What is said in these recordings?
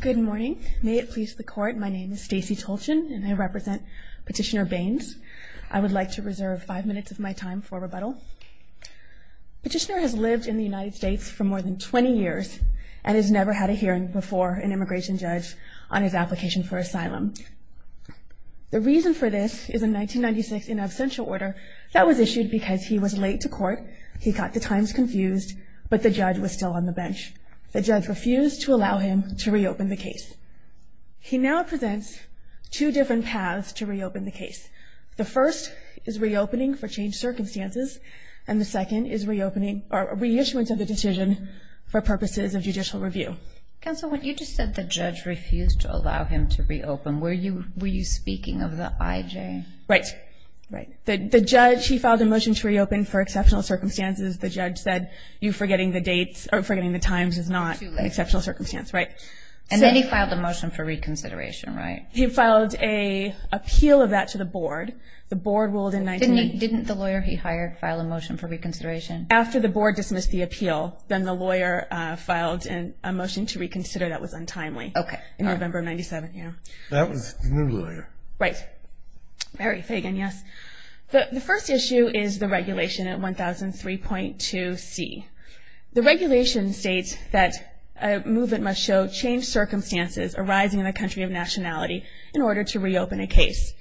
Good morning. May it please the Court, my name is Stacey Tolchin and I represent Petitioner Bains. I would like to reserve five minutes of my time for rebuttal. Petitioner has lived in the United States for more than 20 years and has never had a hearing before an immigration judge on his application for asylum. The reason for this is a 1996 in absentia order that was issued because he was late to court, he got the times confused, but the judge was still on the bench. The judge refused to allow him to reopen the case. He now presents two different paths to reopen the case. The first is reopening for changed circumstances and the second is reopening or reissuance of the decision for purposes of judicial review. Counsel, when you just said the judge refused to allow him to reopen, were you speaking of the IJ? Right. The judge, he filed a motion to reopen for exceptional circumstances. The judge said, you forgetting the dates or forgetting the times is not an exceptional circumstance. And then he filed a motion for reconsideration, right? He filed an appeal of that to the board. The board ruled in 19- Didn't the lawyer he hired file a motion for reconsideration? After the board dismissed the appeal, then the lawyer filed a motion to reconsider. That was untimely. Okay. In November of 97, yeah. That was the new lawyer. Right. Mary Fagan, yes. The first issue is the regulation at 1003.2C. The regulation states that a movement must show changed circumstances arising in a country of nationality in order to reopen a case.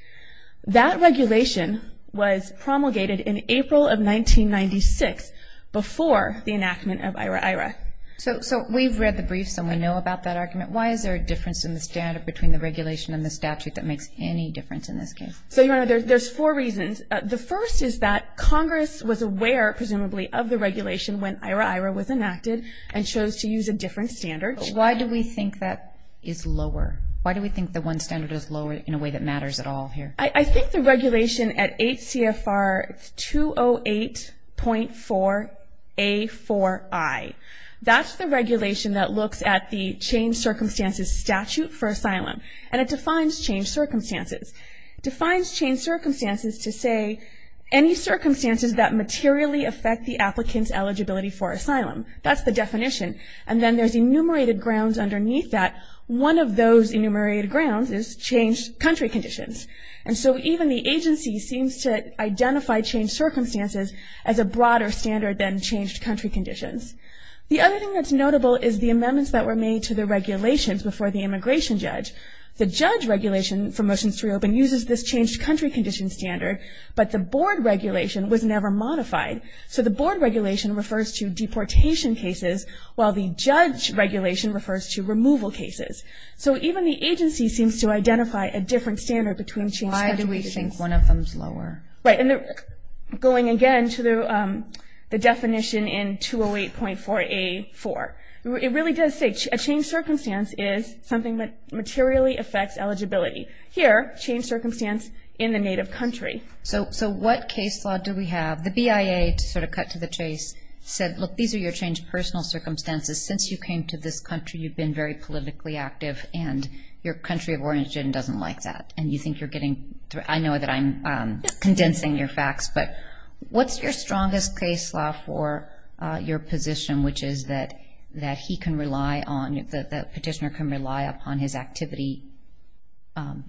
That regulation was promulgated in April of 1996 before the enactment of IHRA-IHRA. So we've read the briefs and we know about that argument. Why is there a difference in the standard between the regulation and the statute that makes any difference in this case? So, Your Honor, there's four reasons. The first is that Congress was aware, presumably, of the regulation when IHRA-IHRA was enacted and chose to use a different standard. Why do we think that is lower? Why do we think the one standard is lower in a way that matters at all here? I think the regulation at 8 CFR 208.4A4I, that's the regulation that looks at the changed circumstances statute for asylum. And it defines changed circumstances. It defines changed circumstances to say any circumstances that materially affect the applicant's eligibility for asylum. That's the definition. And then there's enumerated grounds underneath that. One of those enumerated grounds is changed country conditions. And so even the agency seems to identify changed circumstances as a broader standard than changed country conditions. The other thing that's notable is the amendments that were made to the regulations before the immigration judge. The judge regulation for motions to reopen uses this changed country condition standard, but the board regulation was never modified. So the board regulation refers to deportation cases, while the judge regulation refers to removal cases. So even the agency seems to identify a different standard between changed country conditions. Why do we think one of them is lower? Right. And going again to the definition in 208.4A4, it really does say a changed circumstance is something that materially affects eligibility. Here, changed circumstance in the native country. So what case law do we have? The BIA, to sort of cut to the chase, said, look, these are your changed personal circumstances. Since you came to this country, you've been very politically active, and your country of origin doesn't like that, and you think you're getting through. I know that I'm condensing your facts, but what's your strongest case law for your position, which is that he can rely on, the petitioner can rely upon his activity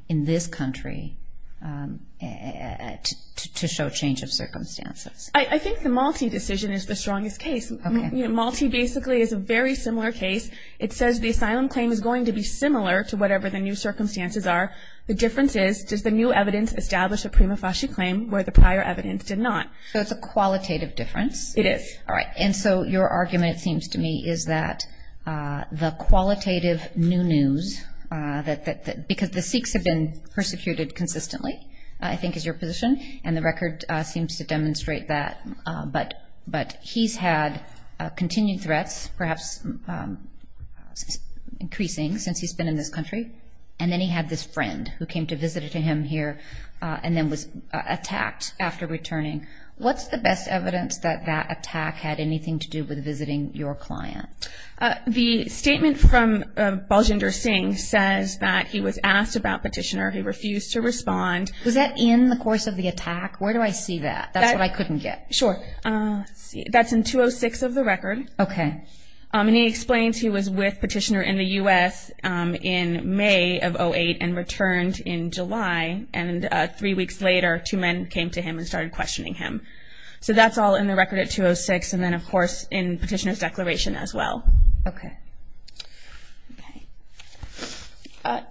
in this country to show change of circumstances? I think the Malte decision is the strongest case. Okay. Malte basically is a very similar case. It says the asylum claim is going to be similar to whatever the new circumstances are. The difference is, does the new evidence establish a prima facie claim where the prior evidence did not? So it's a qualitative difference. It is. All right. And so your argument, it seems to me, is that the qualitative new news, because the Sikhs have been persecuted consistently, I think is your position, and the record seems to demonstrate that, but he's had continued threats, perhaps increasing since he's been in this country, and then he had this friend who came to visit him here and then was attacked after returning. What's the best evidence that that attack had anything to do with visiting your client? The statement from Baljinder Singh says that he was asked about petitioner. He refused to respond. Was that in the course of the attack? Where do I see that? That's what I couldn't get. Sure. That's in 206 of the record. Okay. And he explains he was with petitioner in the U.S. in May of 08 and returned in July, and three weeks later two men came to him and started questioning him. So that's all in the record at 206, and then, of course, in petitioner's declaration as well. Okay.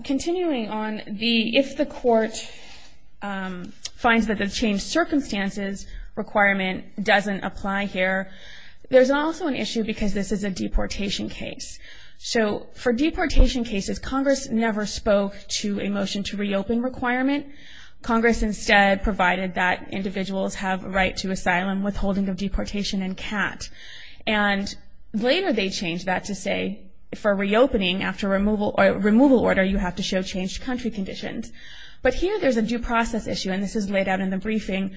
Continuing on, if the court finds that the changed circumstances requirement doesn't apply here, there's also an issue because this is a deportation case. So for deportation cases, Congress never spoke to a motion to reopen requirement. Congress instead provided that individuals have a right to asylum, withholding of deportation, and CAT. And later they changed that to say for reopening after removal order you have to show changed country conditions. But here there's a due process issue, and this is laid out in the briefing.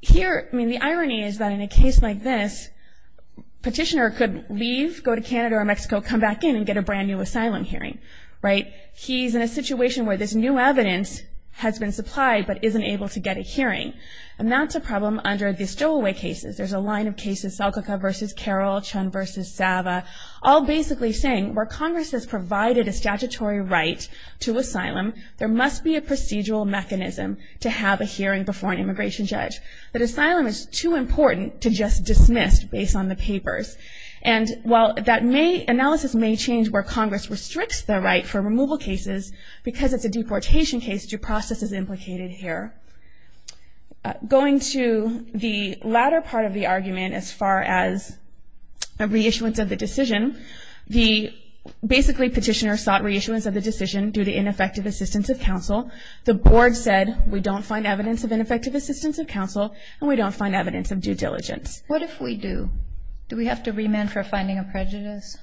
Here, I mean, the irony is that in a case like this, petitioner could leave, go to Canada or Mexico, come back in and get a brand-new asylum hearing. Right? He's in a situation where this new evidence has been supplied but isn't able to get a hearing, and that's a problem under the stowaway cases. There's a line of cases, Selkirka v. Carroll, Chun v. Zava, all basically saying, where Congress has provided a statutory right to asylum, there must be a procedural mechanism to have a hearing before an immigration judge. That asylum is too important to just dismiss based on the papers. And while that may, analysis may change where Congress restricts the right for removal cases because it's a deportation case, due process is implicated here. Going to the latter part of the argument as far as a reissuance of the decision, the basically petitioner sought reissuance of the decision due to ineffective assistance of counsel. The board said we don't find evidence of ineffective assistance of counsel and we don't find evidence of due diligence. What if we do? Do we have to remand for finding a prejudice?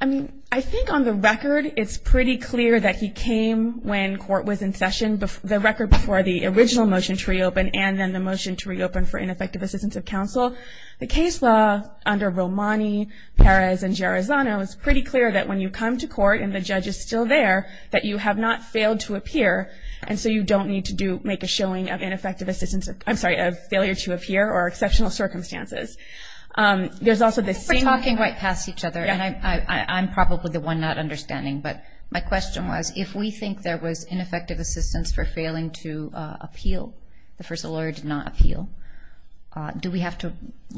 I mean, I think on the record, it's pretty clear that he came when court was in session, the record before the original motion to reopen, and then the motion to reopen for ineffective assistance of counsel. The case law under Romani, Perez, and Gerizano is pretty clear that when you come to court and the judge is still there, that you have not failed to appear, and so you don't need to make a showing of ineffective assistance, I'm sorry, of failure to appear or exceptional circumstances. We're talking right past each other, and I'm probably the one not understanding, but my question was if we think there was ineffective assistance for failing to appeal, the first lawyer did not appeal, do we have to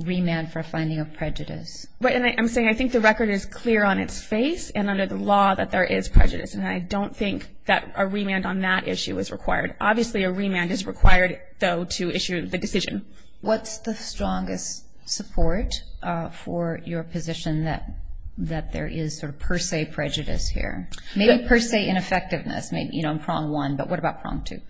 remand for finding a prejudice? Right, and I'm saying I think the record is clear on its face and under the law that there is prejudice, and I don't think that a remand on that issue is required. Obviously, a remand is required, though, to issue the decision. What's the strongest support for your position that there is sort of per se prejudice here? Maybe per se ineffectiveness, you know, in prong one, but what about prong two?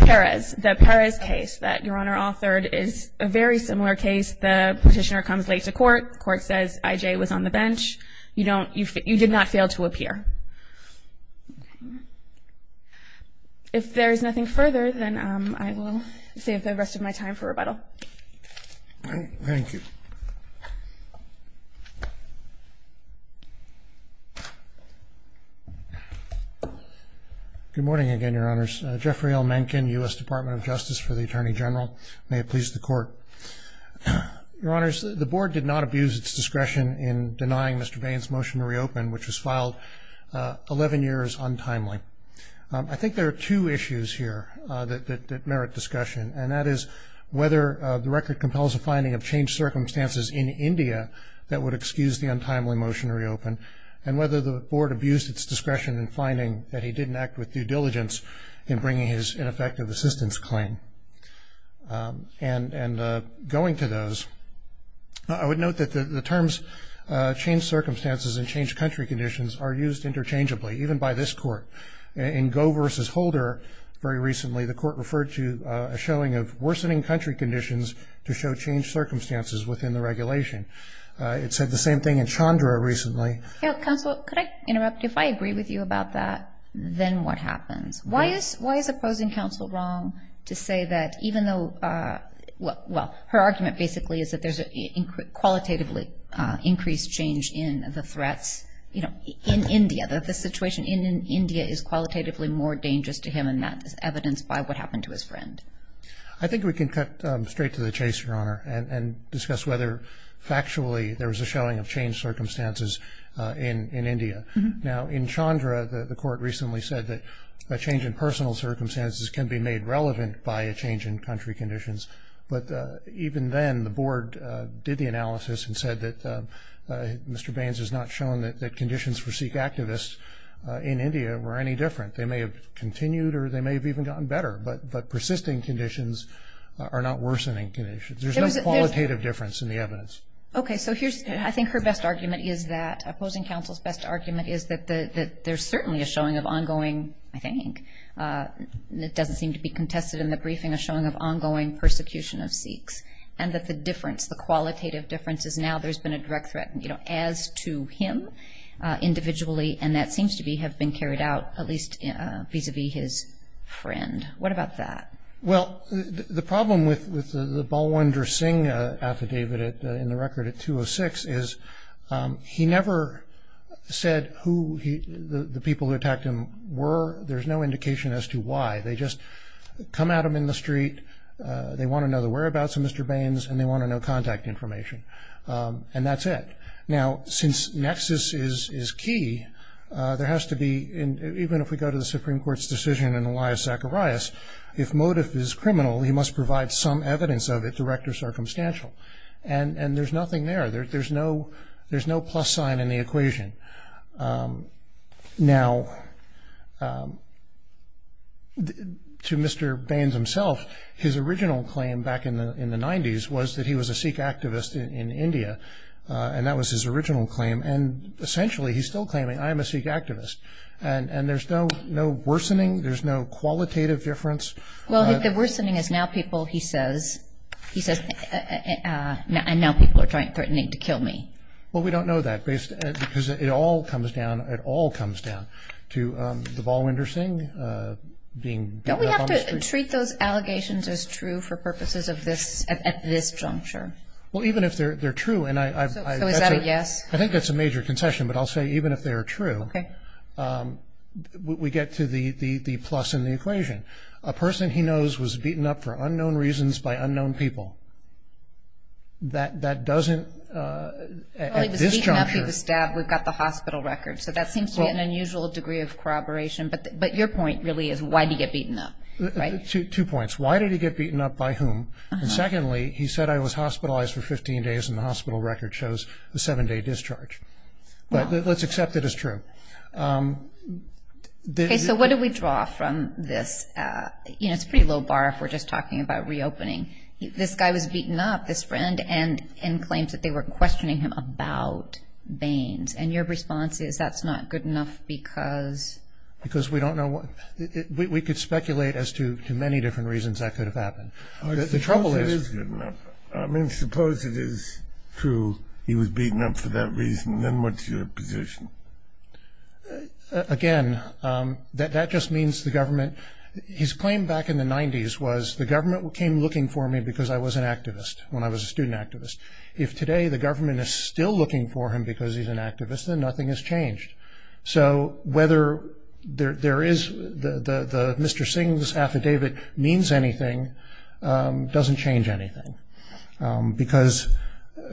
Perez. The Perez case that Your Honor authored is a very similar case. The petitioner comes late to court. The court says I.J. was on the bench. You did not fail to appear. If there is nothing further, then I will save the rest of my time for rebuttal. Thank you. Good morning again, Your Honors. Jeffrey L. Mencken, U.S. Department of Justice for the Attorney General. May it please the Court. Your Honors, the Board did not abuse its discretion in denying Mr. Bain's motion to reopen, which was filed 11 years untimely. I think there are two issues here that merit discussion, and that is whether the record compels a finding of changed circumstances in India that would excuse the untimely motion to reopen, and whether the Board abused its discretion in finding that he didn't act with due diligence in bringing his ineffective assistance claim. And going to those, I would note that the terms changed circumstances and changed country conditions are used interchangeably, even by this Court. In Goh v. Holder very recently, the Court referred to a showing of worsening country conditions to show changed circumstances within the regulation. It said the same thing in Chandra recently. Counsel, could I interrupt? If I agree with you about that, then what happens? Why is opposing counsel wrong to say that even though, well, her argument basically is that there's a qualitatively increased change in the threats in India, that the situation in India is qualitatively more dangerous to him than is evidenced by what happened to his friend? I think we can cut straight to the chase, Your Honor, and discuss whether factually there was a showing of changed circumstances in India. Now, in Chandra, the Court recently said that a change in personal circumstances can be made relevant by a change in country conditions. But even then, the Board did the analysis and said that Mr. Baines has not shown that conditions for Sikh activists in India were any different. They may have continued or they may have even gotten better, but persisting conditions are not worsening conditions. There's no qualitative difference in the evidence. Okay. So I think her best argument is that opposing counsel's best argument is that there's certainly a showing of ongoing, I think, it doesn't seem to be contested in the briefing, a showing of ongoing persecution of Sikhs, and that the difference, the qualitative difference is now there's been a direct threat as to him individually, and that seems to have been carried out at least vis-à-vis his friend. What about that? Well, the problem with the Balwinder Singh affidavit in the record at 206 is he never said who the people who attacked him were. There's no indication as to why. They just come at him in the street, they want to know the whereabouts of Mr. Baines, and they want to know contact information, and that's it. Now, since nexus is key, there has to be, even if we go to the Supreme Court's decision in Elias Zacharias, if motive is criminal, he must provide some evidence of it, direct or circumstantial, and there's nothing there. There's no plus sign in the equation. Now, to Mr. Baines himself, his original claim back in the 90s was that he was a Sikh activist in India, and that was his original claim, and essentially he's still claiming, I am a Sikh activist, and there's no worsening, there's no qualitative difference. Well, the worsening is now people, he says, he says, and now people are threatening to kill me. Well, we don't know that because it all comes down, it all comes down to the Balwinder Singh being. Don't we have to treat those allegations as true for purposes at this juncture? Well, even if they're true, and I've... So is that a yes? I think that's a major concession, but I'll say even if they're true, we get to the plus in the equation. A person he knows was beaten up for unknown reasons by unknown people. That doesn't, at this juncture... Well, he was beaten up, he was stabbed. We've got the hospital record, so that seems to be an unusual degree of corroboration, but your point really is why did he get beaten up, right? Two points. First, why did he get beaten up, by whom? And secondly, he said, I was hospitalized for 15 days, and the hospital record shows a seven-day discharge. But let's accept that as true. Okay, so what do we draw from this? You know, it's a pretty low bar if we're just talking about reopening. This guy was beaten up, this friend, and claims that they were questioning him about Baines, and your response is that's not good enough because... We could speculate as to many different reasons that could have happened. The trouble is... I mean, suppose it is true he was beaten up for that reason, then what's your position? Again, that just means the government... His claim back in the 90s was the government came looking for me because I was an activist, when I was a student activist. If today the government is still looking for him because he's an activist, then nothing has changed. So whether there is the Mr. Singh's affidavit means anything doesn't change anything because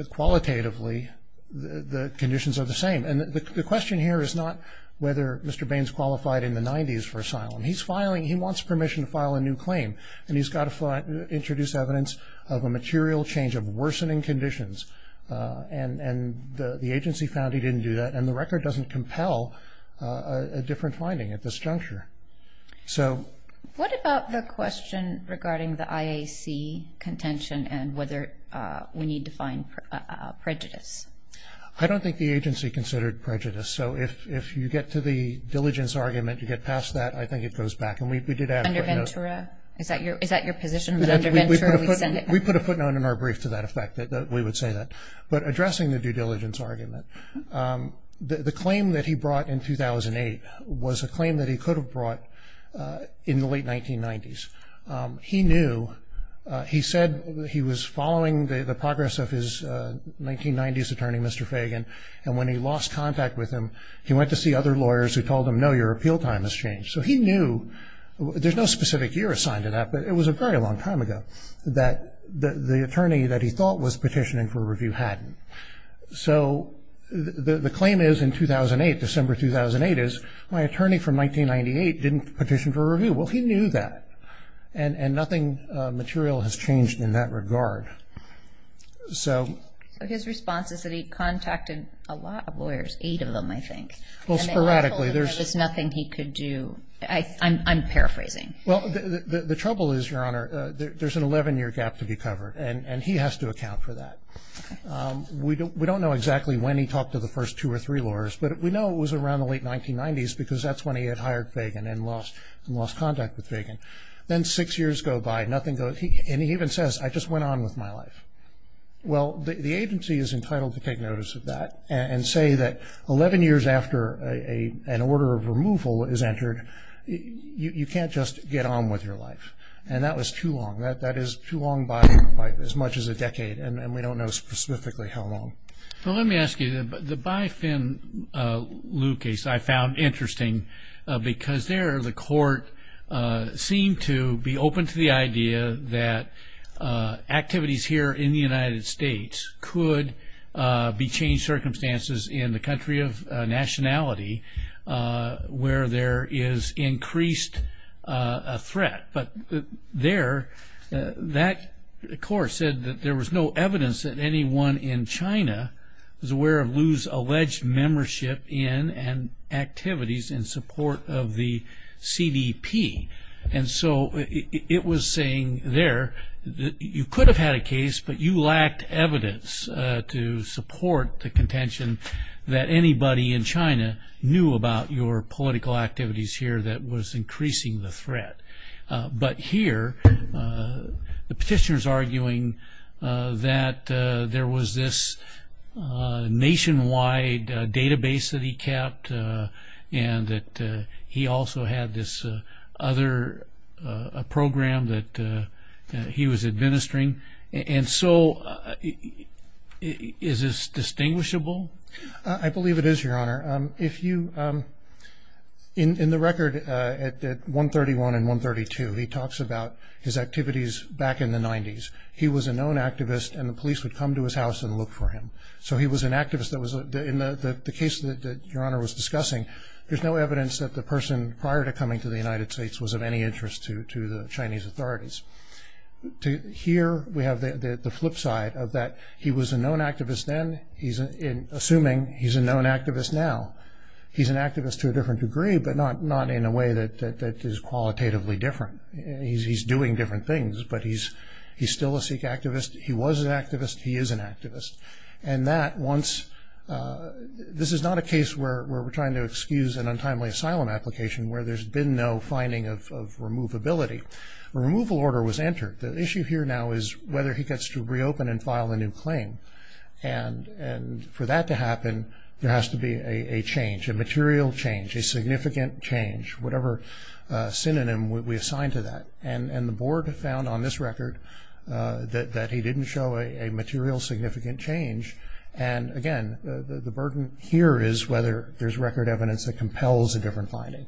qualitatively the conditions are the same. And the question here is not whether Mr. Baines qualified in the 90s for asylum. He's filing... He wants permission to file a new claim, and he's got to introduce evidence of a material change of worsening conditions, and the agency found he didn't do that, and the record doesn't compel a different finding at this juncture. So... What about the question regarding the IAC contention and whether we need to find prejudice? I don't think the agency considered prejudice. So if you get to the diligence argument, you get past that, I think it goes back, and we did add a footnote... Under Ventura? Is that your position, that under Ventura we send it back? We put a footnote in our brief to that effect that we would say that. But addressing the due diligence argument, the claim that he brought in 2008 was a claim that he could have brought in the late 1990s. He knew... He said he was following the progress of his 1990s attorney, Mr. Fagan, and when he lost contact with him, he went to see other lawyers who told him, no, your appeal time has changed. So he knew... There's no specific year assigned to that, but it was a very long time ago that the attorney that he thought was petitioning for review hadn't. So the claim is in 2008, December 2008, is my attorney from 1998 didn't petition for review. Well, he knew that, and nothing material has changed in that regard. So... So his response is that he contacted a lot of lawyers, eight of them, I think. Well, sporadically, there's... And they all told him there was nothing he could do. I'm paraphrasing. Well, the trouble is, Your Honor, there's an 11-year gap to be covered, and he has to account for that. We don't know exactly when he talked to the first two or three lawyers, but we know it was around the late 1990s because that's when he had hired Fagan and lost contact with Fagan. Then six years go by, nothing goes... And he even says, I just went on with my life. Well, the agency is entitled to take notice of that and say that 11 years after an order of removal is entered, you can't just get on with your life. And that was too long. That is too long by as much as a decade, and we don't know specifically how long. Well, let me ask you, the Bi-Fin Liu case I found interesting because there the court seemed to be open to the idea that activities here in the United States could be changed circumstances in the country of nationality where there is increased threat. But there, that court said that there was no evidence that anyone in China was aware of Liu's alleged membership in and activities in support of the CDP. And so it was saying there that you could have had a case, but you lacked evidence to support the contention that anybody in China knew about your political activities here that was increasing the threat. But here, the petitioner is arguing that there was this nationwide database that he kept and that he also had this other program that he was administering. And so is this distinguishable? I believe it is, Your Honor. If you, in the record at 131 and 132, he talks about his activities back in the 90s. He was a known activist, and the police would come to his house and look for him. So he was an activist. In the case that Your Honor was discussing, there's no evidence that the person prior to coming to the United States was of any interest to the Chinese authorities. Here we have the flip side of that. He was a known activist then, assuming he's a known activist now. He's an activist to a different degree, but not in a way that is qualitatively different. He's doing different things, but he's still a Sikh activist. He was an activist. He is an activist. And this is not a case where we're trying to excuse an untimely asylum application where there's been no finding of removability. A removal order was entered. The issue here now is whether he gets to reopen and file a new claim. And for that to happen, there has to be a change, a material change, a significant change, whatever synonym we assign to that. And the Board found on this record that he didn't show a material significant change. And, again, the burden here is whether there's record evidence that compels a different finding.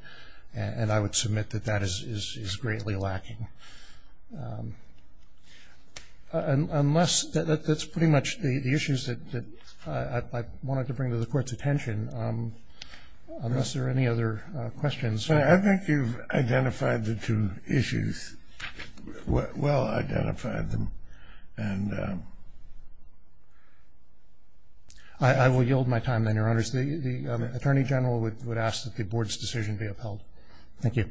And I would submit that that is greatly lacking. Unless that's pretty much the issues that I wanted to bring to the Court's attention. Unless there are any other questions. I think you've identified the two issues, well-identified them. And I will yield my time then, Your Honors. The Attorney General would ask that the Board's decision be upheld. Thank you.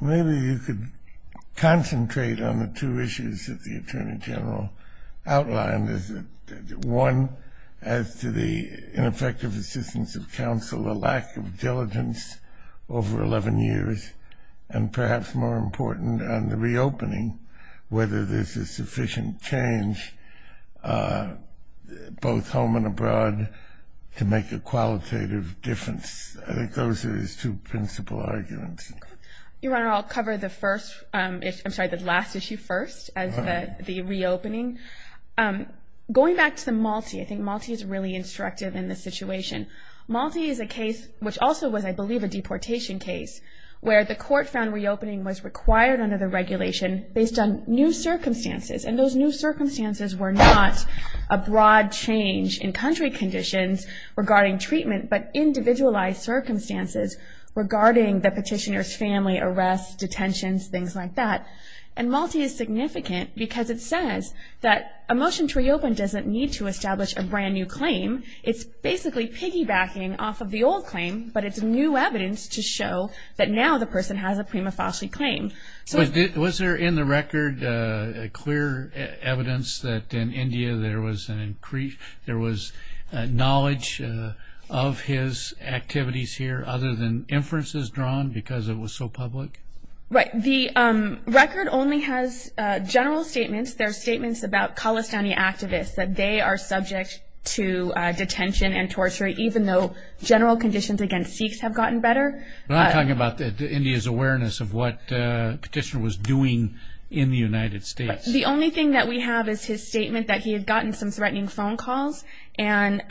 Maybe you could concentrate on the two issues that the Attorney General outlined. One, as to the ineffective assistance of counsel, a lack of diligence over 11 years. And perhaps more important, on the reopening, whether there's a sufficient change, both home and abroad, to make a qualitative difference. I think those are his two principal arguments. Your Honor, I'll cover the first, I'm sorry, the last issue first, as the reopening. Going back to the Malti, I think Malti is really instructive in this situation. Malti is a case, which also was, I believe, a deportation case, where the Court found reopening was required under the regulation based on new circumstances. And those new circumstances were not a broad change in country conditions regarding treatment, but individualized circumstances regarding the petitioner's family arrests, detentions, things like that. And Malti is significant because it says that a motion to reopen doesn't need to establish a brand-new claim. It's basically piggybacking off of the old claim, but it's new evidence to show that now the person has a prima facie claim. Was there in the record clear evidence that in India there was knowledge of his activities here, other than inferences drawn because it was so public? Right. The record only has general statements. There are statements about Khalistani activists, that they are subject to detention and torture, even though general conditions against Sikhs have gotten better. But I'm talking about India's awareness of what the petitioner was doing in the United States. The only thing that we have is his statement that he had gotten some threatening phone calls and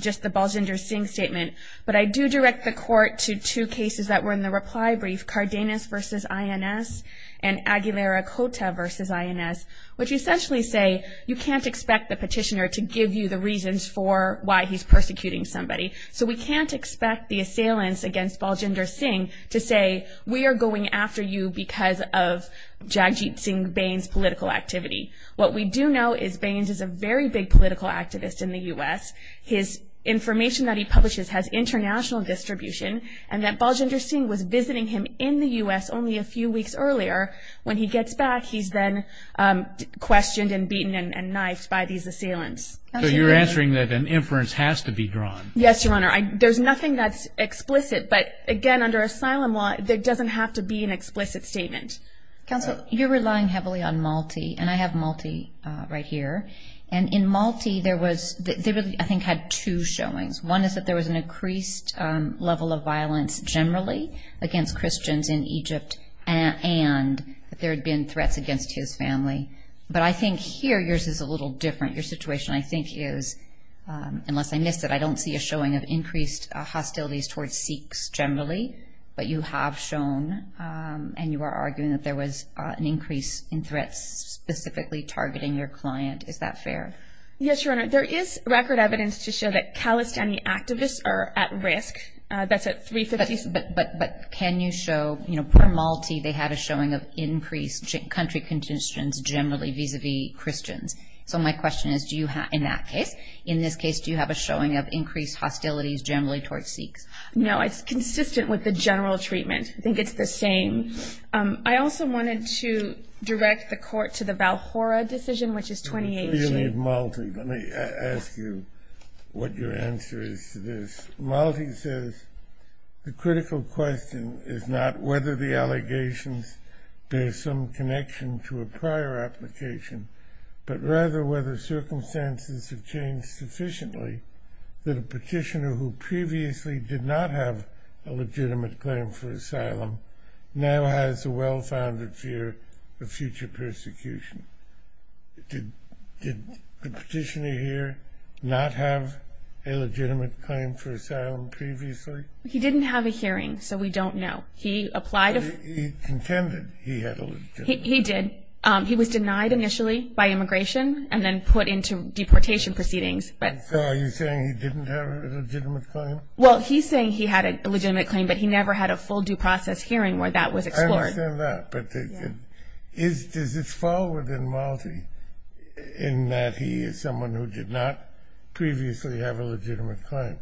just the Baljinder Singh statement. But I do direct the Court to two cases that were in the reply brief, Cardenas v. INS and Aguilera Cota v. INS, which essentially say you can't expect the petitioner to give you the reasons for why he's persecuting somebody. So we can't expect the assailants against Baljinder Singh to say, we are going after you because of Jagjit Singh Bains' political activity. What we do know is Bains is a very big political activist in the U.S. His information that he publishes has international distribution, and that Baljinder Singh was visiting him in the U.S. only a few weeks earlier. When he gets back, he's then questioned and beaten and knifed by these assailants. So you're answering that an inference has to be drawn? Yes, Your Honor. There's nothing that's explicit. But again, under asylum law, there doesn't have to be an explicit statement. Counsel, you're relying heavily on Malti, and I have Malti right here. And in Malti, there was – they really, I think, had two showings. One is that there was an increased level of violence generally against Christians in Egypt and that there had been threats against his family. But I think here yours is a little different. Your situation, I think, is – unless I missed it, I don't see a showing of increased hostilities towards Sikhs generally. But you have shown, and you are arguing, that there was an increase in threats specifically targeting your client. Is that fair? Yes, Your Honor. There is record evidence to show that Khalistani activists are at risk. That's at 350. But can you show – you know, per Malti, they had a showing of increased country conditions generally vis-à-vis Christians. So my question is do you have – in that case. In this case, do you have a showing of increased hostilities generally towards Sikhs? No, it's consistent with the general treatment. I think it's the same. I also wanted to direct the court to the Valhora decision, which is 2018. Before you leave Malti, let me ask you what your answer is to this. Malti says the critical question is not whether the allegations – there's some connection to a prior application, but rather whether circumstances have changed sufficiently that a petitioner who previously did not have a legitimate claim for asylum now has a well-founded fear of future persecution. Did the petitioner here not have a legitimate claim for asylum previously? He didn't have a hearing, so we don't know. He applied – He contended he had a legitimate claim. He did. He was denied initially by immigration and then put into deportation proceedings. So are you saying he didn't have a legitimate claim? Well, he's saying he had a legitimate claim, but he never had a full due process hearing where that was explored. I understand that, but does this fall within Malti in that he is someone who did not previously have a legitimate claim?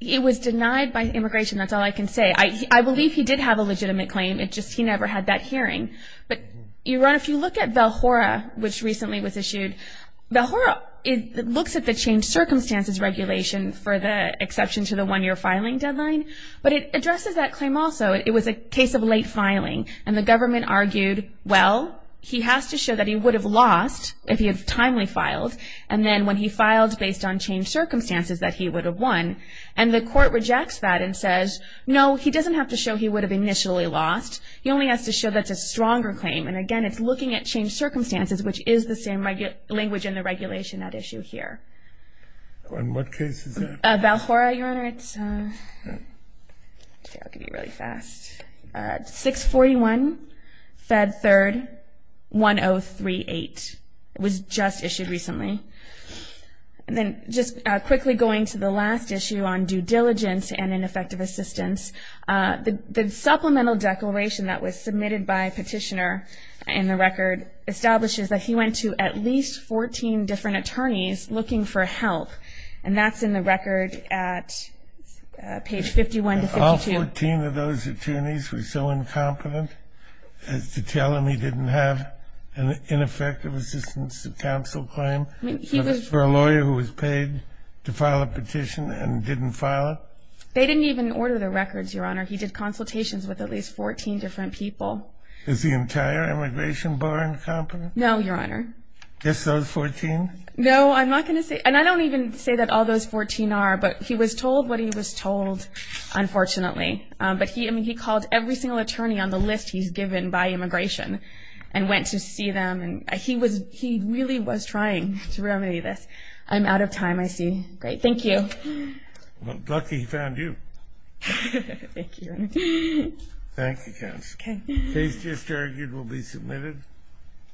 He was denied by immigration. That's all I can say. I believe he did have a legitimate claim. It's just he never had that hearing. But if you look at Valhora, which recently was issued, Valhora looks at the changed circumstances regulation for the exception to the one-year filing deadline, but it addresses that claim also. It was a case of late filing, and the government argued, well, he has to show that he would have lost if he had timely filed, and then when he filed based on changed circumstances that he would have won. And the court rejects that and says, no, he doesn't have to show he would have initially lost. He only has to show that's a stronger claim. And, again, it's looking at changed circumstances, which is the same language in the regulation at issue here. And what case is that? Valhora, Your Honor. I'll give you really fast. 641, Fed 3rd, 1038. It was just issued recently. And then just quickly going to the last issue on due diligence and ineffective assistance, the supplemental declaration that was submitted by a petitioner in the record establishes that he went to at least 14 different attorneys looking for help, and that's in the record at page 51 to 52. All 14 of those attorneys were so incompetent as to tell him he didn't have an ineffective assistance to counsel claim? For a lawyer who was paid to file a petition and didn't file it? They didn't even order the records, Your Honor. He did consultations with at least 14 different people. Is the entire immigration bar incompetent? No, Your Honor. Just those 14? No, I'm not going to say. And I don't even say that all those 14 are. But he was told what he was told, unfortunately. But he called every single attorney on the list he's given by immigration and went to see them. And he really was trying to remedy this. I'm out of time, I see. Great, thank you. Well, lucky he found you. Thank you, Your Honor. Thank you, counsel. Case just argued will be submitted.